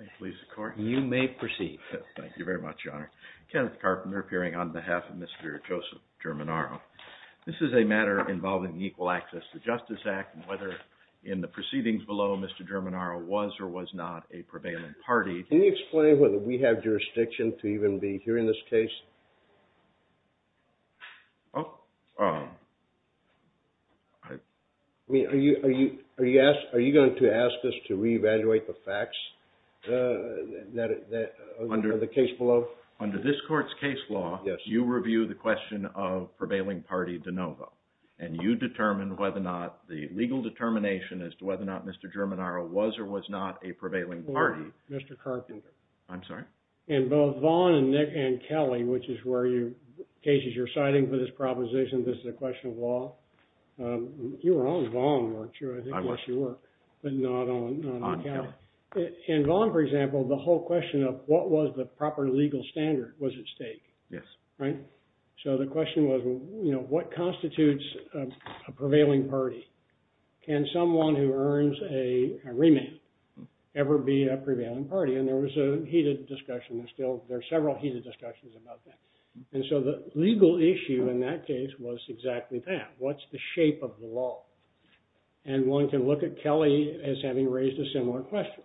Can you explain whether we have jurisdiction to even be here in this case? Are you going to ask us to reevaluate the facts? Under this court's case law, you review the question of prevailing party de novo, and you determine whether or not the legal determination as to whether or not Mr. Germinaro was or was not a prevailing party. Mr. Carpenter. I'm sorry? In both Vaughn and Kelly, which is where you, in cases you're citing for this proposition, this is a question of law. You were on Vaughn, weren't you? I was. But not on Kelly. On Kelly. In Vaughn, for example, the whole question of what was the proper legal standard was at stake. Yes. Right. So the question was, you know, what constitutes a prevailing party? Can someone who earns a remand ever be a prevailing party? And there was a heated discussion. There's still, there's several heated discussions about that. And so the legal issue in that case was exactly that. What's the shape of the law? And one can look at Kelly as having raised a similar question.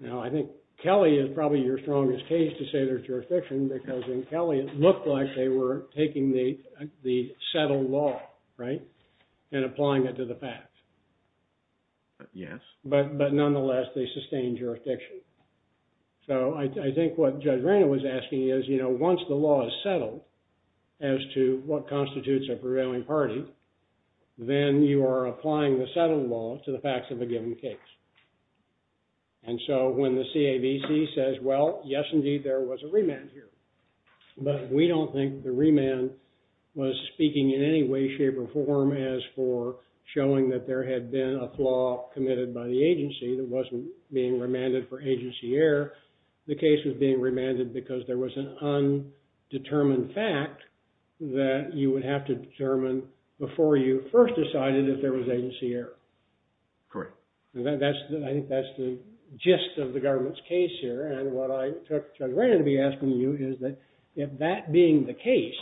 Now, I think Kelly is probably your strongest case to say there's jurisdiction, because in Kelly, it looked like they were taking the settled law, right, and applying it to the facts. Yes. But nonetheless, they sustained jurisdiction. So I think what Judge Rana was asking is, you know, once the law is settled as to what constitutes a prevailing party, then you are applying the settled law to the facts of a given case. And so when the CAVC says, well, yes, indeed, there was a remand here. But we don't think the remand was speaking in any way, shape, or form as for showing that there had been a flaw committed by the agency that wasn't being remanded for agency error. I think that's the gist of the government's case here. And what I took Judge Rana to be asking you is that, if that being the case,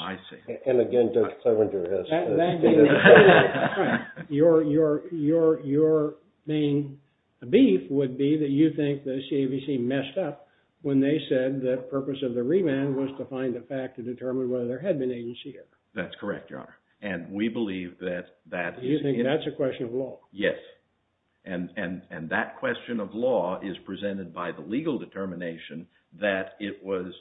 your main beef would be that you think the CAVC messed up when they said the purpose of the remand was to find the fact to determine whether there had been agency error. That's correct, Your Honor. And we believe that that is… You think that's a question of law? Yes. And that question of law is presented by the legal determination that it was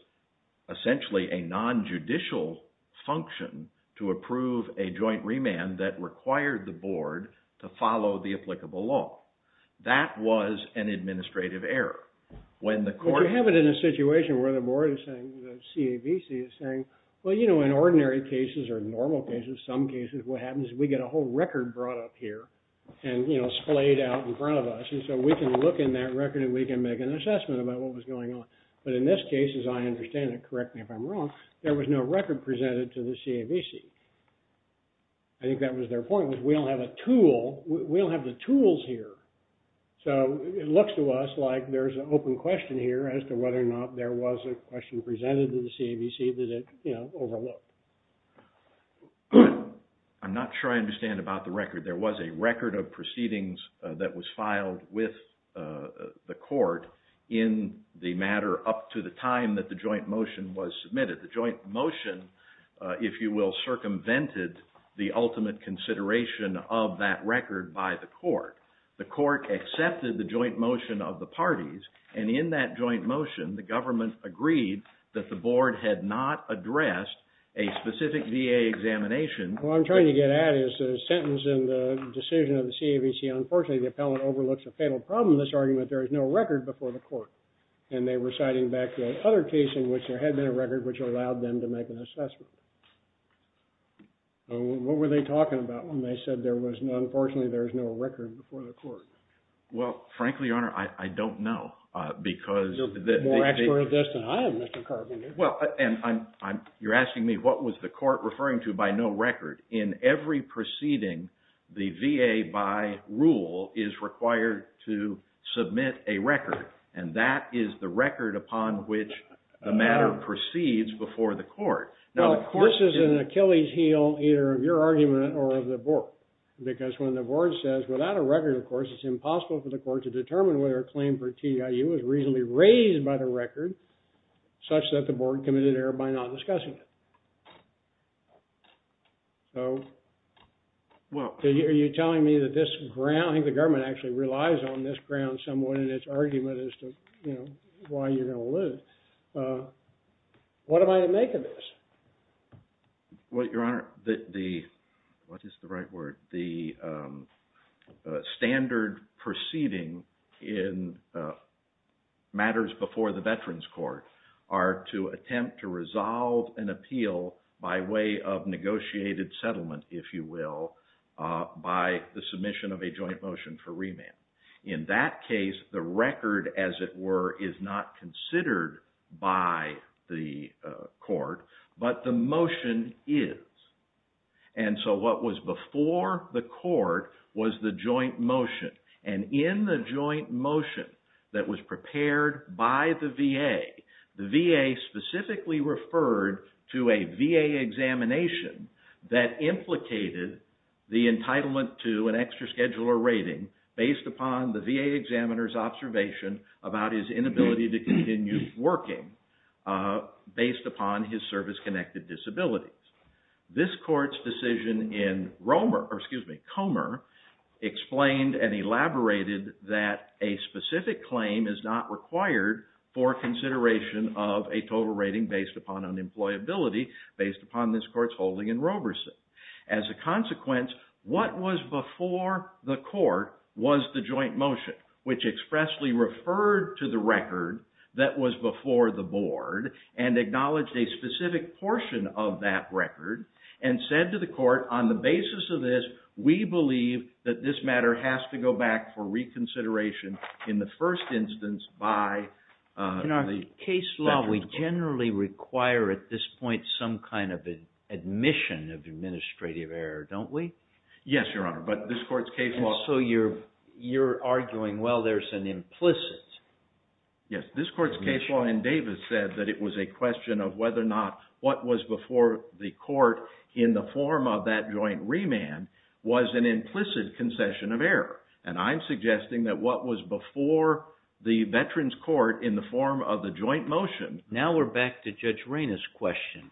essentially a nonjudicial function to approve a joint remand that required the board to follow the applicable law. That was an administrative error. When the court… Well, you know, in ordinary cases or normal cases, some cases, what happens is we get a whole record brought up here and, you know, splayed out in front of us. And so we can look in that record and we can make an assessment about what was going on. But in this case, as I understand it, correct me if I'm wrong, there was no record presented to the CAVC. I think that was their point, was we don't have a tool. We don't have the tools here. So it looks to us like there's an open question here as to whether or not there was a question presented to the CAVC that it, you know, overlooked. I'm not sure I understand about the record. There was a record of proceedings that was filed with the court in the matter up to the time that the joint motion was submitted. The joint motion, if you will, circumvented the ultimate consideration of that record by the court. The court accepted the joint motion of the parties. And in that joint motion, the government agreed that the board had not addressed a specific VA examination. What I'm trying to get at is the sentence in the decision of the CAVC. Unfortunately, the appellant overlooks a fatal problem in this argument. There is no record before the court. And they were citing back the other case in which there had been a record which allowed them to make an assessment. What were they talking about when they said, unfortunately, there's no record before the court? Well, frankly, Your Honor, I don't know. You're more expert at this than I am, Mr. Carpenter. You're asking me what was the court referring to by no record. In every proceeding, the VA by rule is required to submit a record. And that is the record upon which the matter proceeds before the court. Now, this is an Achilles heel either of your argument or of the board. Because when the board says without a record, of course, it's impossible for the court to determine whether a claim for TIU was reasonably raised by the record such that the board committed error by not discussing it. So are you telling me that this ground, the government actually relies on this ground somewhat in its argument as to why you're going to lose? What am I to make of this? Well, Your Honor, the standard proceeding in matters before the Veterans Court are to attempt to resolve an appeal by way of negotiated settlement, if you will, by the submission of a joint motion for remand. In that case, the record, as it were, is not considered by the court, but the motion is. And so what was before the court was the joint motion. And in the joint motion that was prepared by the VA, the VA specifically referred to a VA examination that implicated the entitlement to an extra schedule or rating based upon the VA examiner's observation about his inability to continue working based upon his service-connected disabilities. This court's decision in Comer explained and elaborated that a specific claim is not required for consideration of a total rating based upon unemployability based upon this court's holding in Roberson. As a consequence, what was before the court was the joint motion, which expressly referred to the record that was before the board and acknowledged a specific portion of that record and said to the court, on the basis of this, we believe that this matter has to go back for reconsideration in the first instance by the Veterans Court. But in case law, we generally require at this point some kind of admission of administrative error, don't we? Yes, Your Honor, but this court's case law... And so you're arguing, well, there's an implicit... Now we're back to Judge Reyna's question.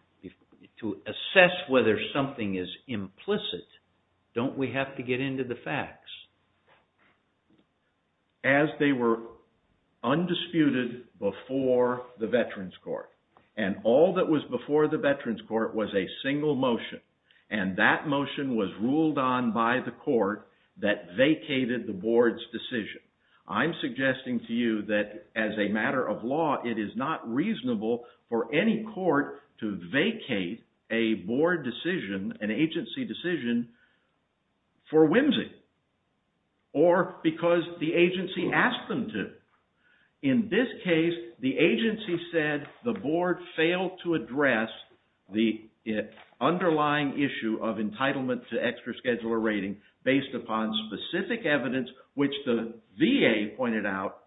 To assess whether something is implicit, don't we have to get into the facts? As they were undisputed before the Veterans Court, and all that was before the Veterans Court was a single motion, and that motion was ruled on by the court that vacated the board's decision. I'm suggesting to you that, as a matter of law, it is not reasonable for any court to vacate a board decision, an agency decision, for whimsy or because the agency asked them to. In this case, the agency said the board failed to address the underlying issue of entitlement to extra scheduler rating based upon specific evidence, which the VA pointed out,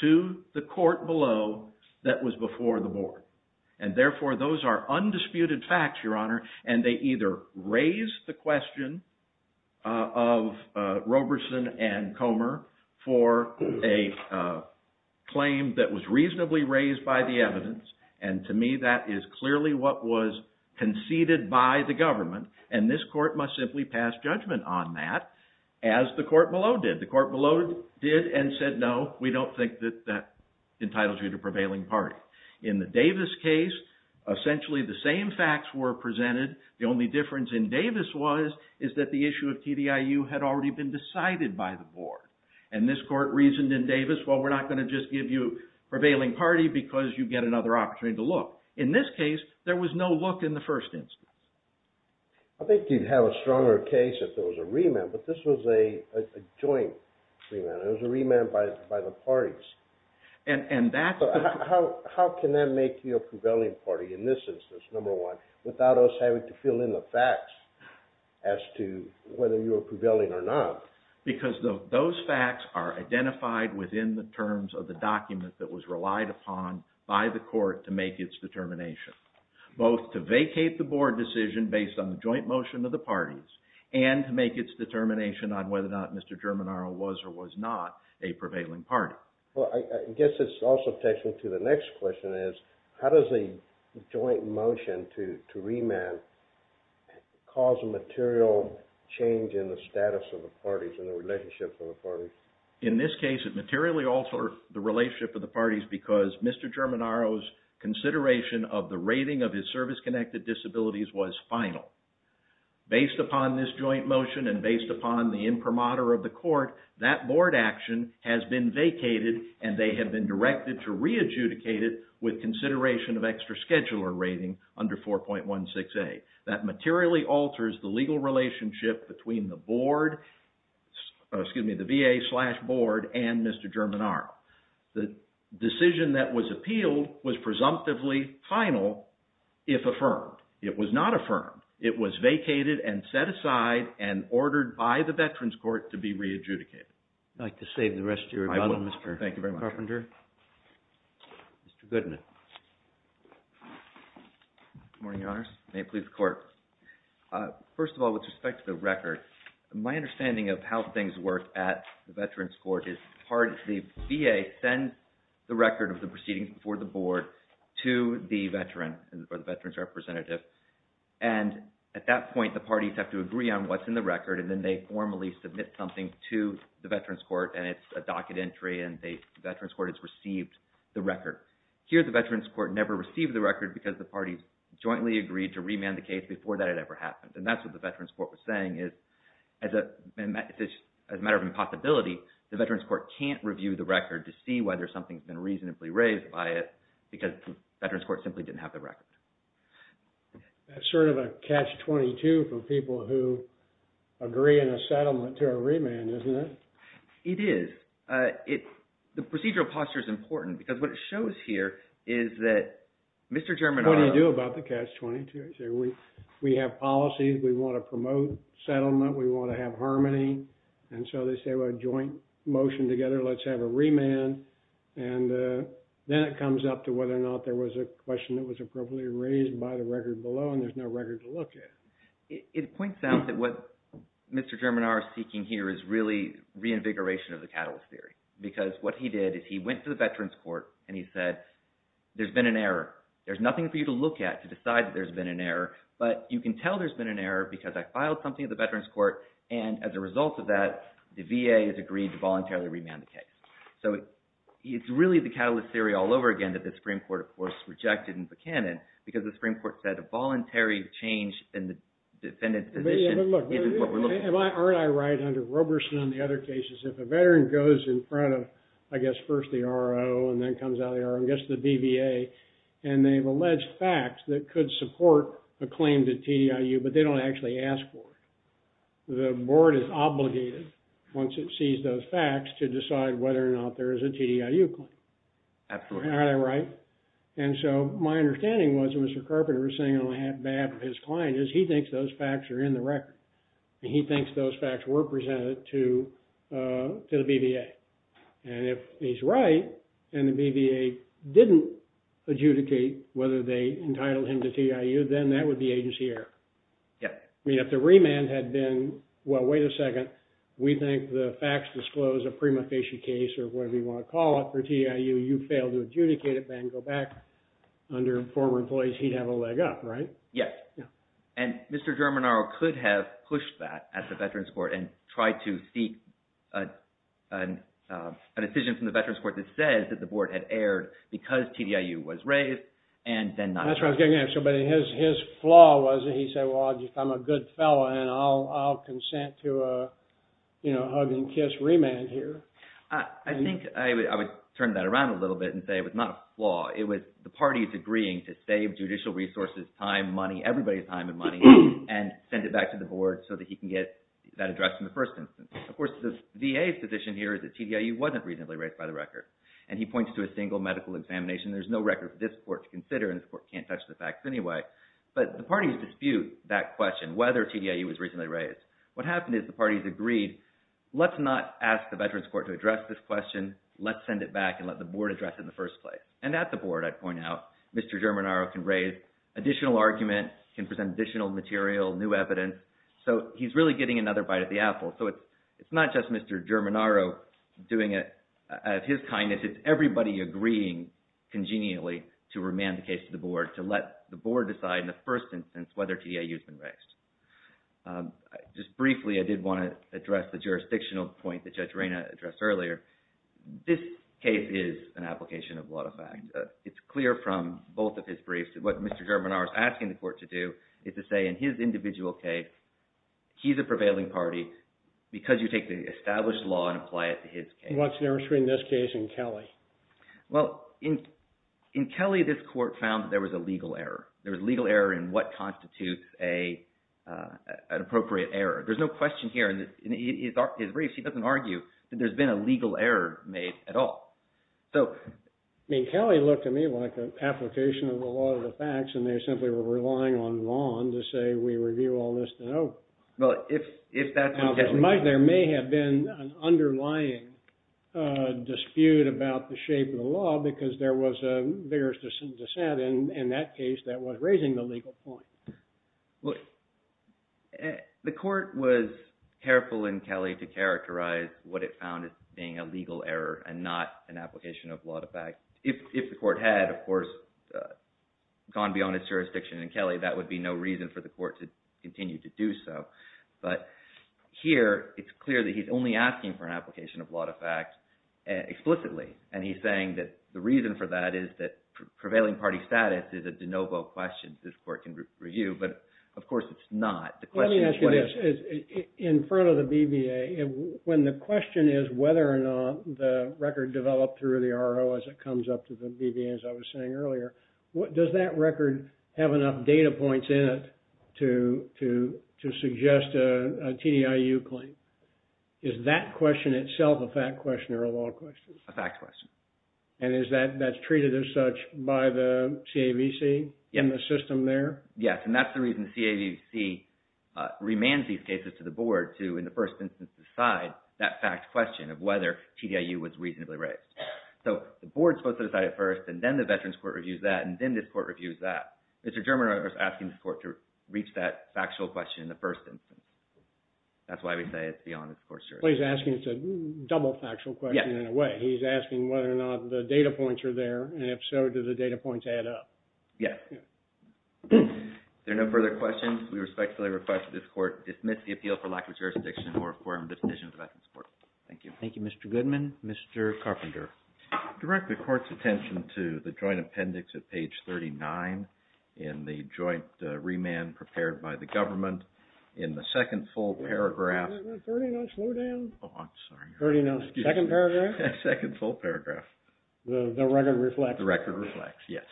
to the court below that was before the board. And therefore, those are undisputed facts, Your Honor, and they either raise the question of Roberson and Comer for a claim that was reasonably raised by the evidence, and to me that is clearly what was conceded by the government, and this court must simply pass judgment on that, as the court below did. The court below did and said, no, we don't think that that entitles you to prevailing party. In the Davis case, essentially the same facts were presented. The only difference in Davis was that the issue of TDIU had already been decided by the board, and this court reasoned in Davis, well, we're not going to just give you prevailing party because you get another opportunity to look. In this case, there was no look in the first instance. I think you'd have a stronger case if there was a remand, but this was a joint remand. It was a remand by the parties. So how can that make you a prevailing party in this instance, number one, without us having to fill in the facts as to whether you were prevailing or not? Because those facts are identified within the terms of the document that was relied upon by the court to make its determination, both to vacate the board decision based on the joint motion of the parties, and to make its determination on whether or not Mr. Germanaro was or was not a prevailing party. Well, I guess it also takes me to the next question. How does a joint motion to remand cause a material change in the status of the parties and the relationship of the parties? In this case, it materially altered the relationship of the parties because Mr. Germanaro's consideration of the rating of his service-connected disabilities was final. Based upon this joint motion and based upon the imprimatur of the court, that board action has been vacated and they have been directed to re-adjudicate it with consideration of extra scheduler rating under 4.16a. That materially alters the legal relationship between the board, excuse me, the VA slash board and Mr. Germanaro. The decision that was appealed was presumptively final if affirmed. It was not affirmed. It was vacated and set aside and ordered by the Veterans Court to be re-adjudicated. I'd like to save the rest of your time, Mr. Carpenter. Thank you very much. Mr. Goodman. Good morning, Your Honors. May it please the Court. First of all, with respect to the record, my understanding of how things work at the Veterans Court is the VA sends the record of the proceedings before the board to the veteran or the veteran's representative. And at that point, the parties have to agree on what's in the record and then they formally submit something to the Veterans Court and it's a docket entry and the Veterans Court has received the record. Here, the Veterans Court never received the record because the parties jointly agreed to remand the case before that had ever happened. And that's what the Veterans Court was saying is as a matter of impossibility, the Veterans Court can't review the record to see whether something's been reasonably raised by it because the Veterans Court simply didn't have the record. That's sort of a catch-22 for people who agree in a settlement to a remand, isn't it? It is. The procedural posture is important because what it shows here is that Mr. Germinara What do you do about the catch-22? We have policies. We want to promote settlement. We want to have harmony. And so they say, well, joint motion together, let's have a remand. And then it comes up to whether or not there was a question that was appropriately raised by the record below and there's no record to look at. It points out that what Mr. Germinara is seeking here is really reinvigoration of the Catalyst Theory because what he did is he went to the Veterans Court and he said, there's been an error. There's nothing for you to look at to decide that there's been an error, but you can tell there's been an error because I filed something at the Veterans Court and as a result of that, the VA has agreed to voluntarily remand the case. So it's really the Catalyst Theory all over again that the Supreme Court, of course, rejected in Buchanan because the Supreme Court said a voluntary change in the defendant's position isn't what we're looking for. Aren't I right under Roberson on the other cases? If a veteran goes in front of, I guess, first the R.O. and then comes out of the R.O. and gets to the BVA and they've alleged facts that could support a claim to TDIU, but they don't actually ask for it. The board is obligated once it sees those facts to decide whether or not there is a TDIU claim. Absolutely. Aren't I right? And so my understanding was Mr. Carpenter was saying on behalf of his client is he thinks those facts are in the record and he thinks those facts were presented to the BVA. And if he's right and the BVA didn't adjudicate whether they entitled him to TDIU, then that would be agency error. Yep. I mean, if the remand had been, well, wait a second, we think the facts disclose a prima facie case or whatever you want to call it for TDIU, you fail to adjudicate it, then go back under former employees, he'd have a leg up, right? Yes. And Mr. Germinaro could have pushed that at the Veterans Court and tried to seek a decision from the Veterans Court that says that the board had erred because TDIU was raised and then not. That's what I was getting at. But his flaw was that he said, well, I'm a good fellow and I'll consent to a hug and kiss remand here. I think I would turn that around a little bit and say it was not a flaw. It was the parties agreeing to save judicial resources, time, money, everybody's time and money, and send it back to the board so that he can get that addressed in the first instance. Of course, the VA's position here is that TDIU wasn't reasonably raised by the record. And he points to a single medical examination. There's no record for this court to consider, and this court can't touch the facts anyway. But the parties dispute that question, whether TDIU was reasonably raised. What happened is the parties agreed, let's not ask the Veterans Court to address this question. Let's send it back and let the board address it in the first place. And at the board, I'd point out, Mr. Germinaro can raise additional arguments, can present additional material, new evidence. So he's really getting another bite of the apple. So it's not just Mr. Germinaro doing it out of his kindness. It's everybody agreeing congenially to remand the case to the board, to let the board decide in the first instance whether TDIU has been raised. Just briefly, I did want to address the jurisdictional point that Judge Reyna addressed earlier. This case is an application of a lot of facts. It's clear from both of his briefs that what Mr. Germinaro is asking the court to do is to say, in his individual case, he's a prevailing party because you take the established law and apply it to his case. What's the difference between this case and Kelly? Well, in Kelly, this court found that there was a legal error. There was a legal error in what constitutes an appropriate error. There's no question here. In his brief, he doesn't argue that there's been a legal error made at all. I mean, Kelly looked to me like an application of a lot of the facts, and they simply were relying on Vaughn to say, we review all this to know. Well, if that's the case. There may have been an underlying dispute about the shape of the law, because there was a vigorous dissent in that case that was raising the legal point. The court was careful in Kelly to characterize what it found as being a legal error and not an application of a lot of facts. If the court had, of course, gone beyond its jurisdiction in Kelly, that would be no reason for the court to continue to do so. But here, it's clear that he's only asking for an application of a lot of facts explicitly, and he's saying that the reason for that is that prevailing party status is a de novo question this court can review. But, of course, it's not. Let me ask you this. In front of the BBA, when the question is whether or not the record developed through the RO as it comes up to the BBA, as I was saying earlier, does that record have enough data points in it to suggest a TDIU claim? Is that question itself a fact question or a law question? A fact question. And that's treated as such by the CAVC in the system there? Yes, and that's the reason the CAVC remands these cases to the board to, in the first instance, decide that fact question of whether TDIU was reasonably raised. So the board is supposed to decide it first, and then the Veterans Court reviews that, and then this court reviews that. Mr. German is asking the court to reach that factual question in the first instance. That's why we say it's beyond its court's jurisdiction. He's asking it's a double factual question in a way. He's asking whether or not the data points are there, and if so, do the data points add up? Yes. If there are no further questions, we respectfully request that this court dismiss the appeal for lack of jurisdiction or affirm the decision of the Veterans Court. Thank you. Thank you, Mr. Goodman. Mr. Carpenter. Direct the court's attention to the joint appendix at page 39 in the joint remand prepared by the government. In the second full paragraph. 30 notes, slow down. Oh, I'm sorry. 30 notes. Second paragraph. Second full paragraph. The record reflects. The record reflects, yes.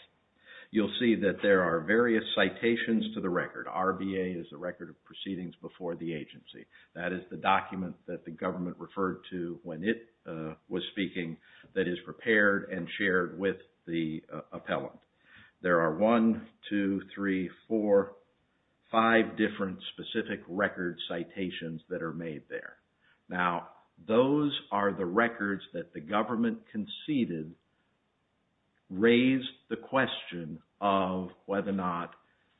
You'll see that there are various citations to the record. RBA is the record of proceedings before the agency. That is the document that the government referred to when it was speaking that is prepared and shared with the appellant. There are one, two, three, four, five different specific record citations that are made there. Now, those are the records that the government conceded raised the question of whether or not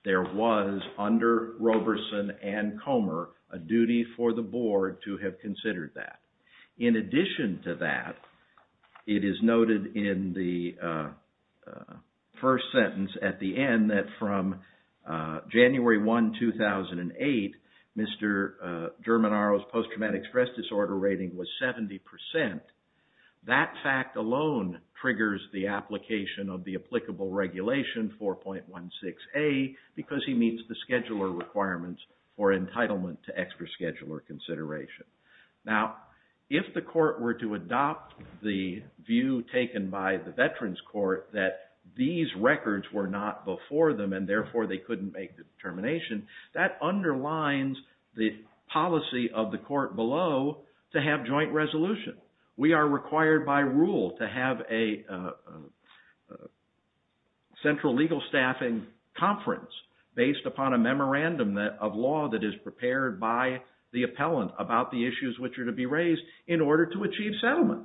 there was under Roberson and Comer a duty for the board to have considered that. In addition to that, it is noted in the first sentence at the end that from January 1, 2008, Mr. Germanaro's post-traumatic stress disorder rating was 70%. That fact alone triggers the application of the applicable regulation 4.16a because he meets the scheduler requirements for entitlement to extra scheduler consideration. Now, if the court were to adopt the view taken by the Veterans Court that these records were not before them and, therefore, they couldn't make the determination, that underlines the policy of the court below to have joint resolution. We are required by rule to have a central legal staffing conference based upon a memorandum of law that is prepared by the issues which are to be raised in order to achieve settlement.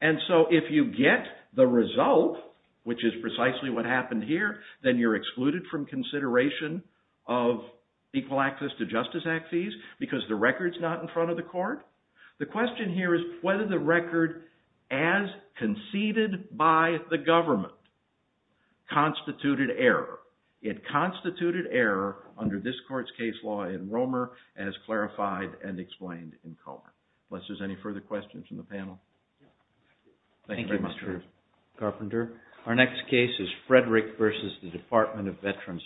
And so if you get the result, which is precisely what happened here, then you're excluded from consideration of Equal Access to Justice Act fees because the record's not in front of the court. The question here is whether the record as conceded by the government constituted error. It constituted error under this court's case law in Romer as clarified and explained in Cohen. Unless there's any further questions from the panel. Thank you, Mr. Carpenter. Our next case is Frederick versus the Department of Veterans Affairs.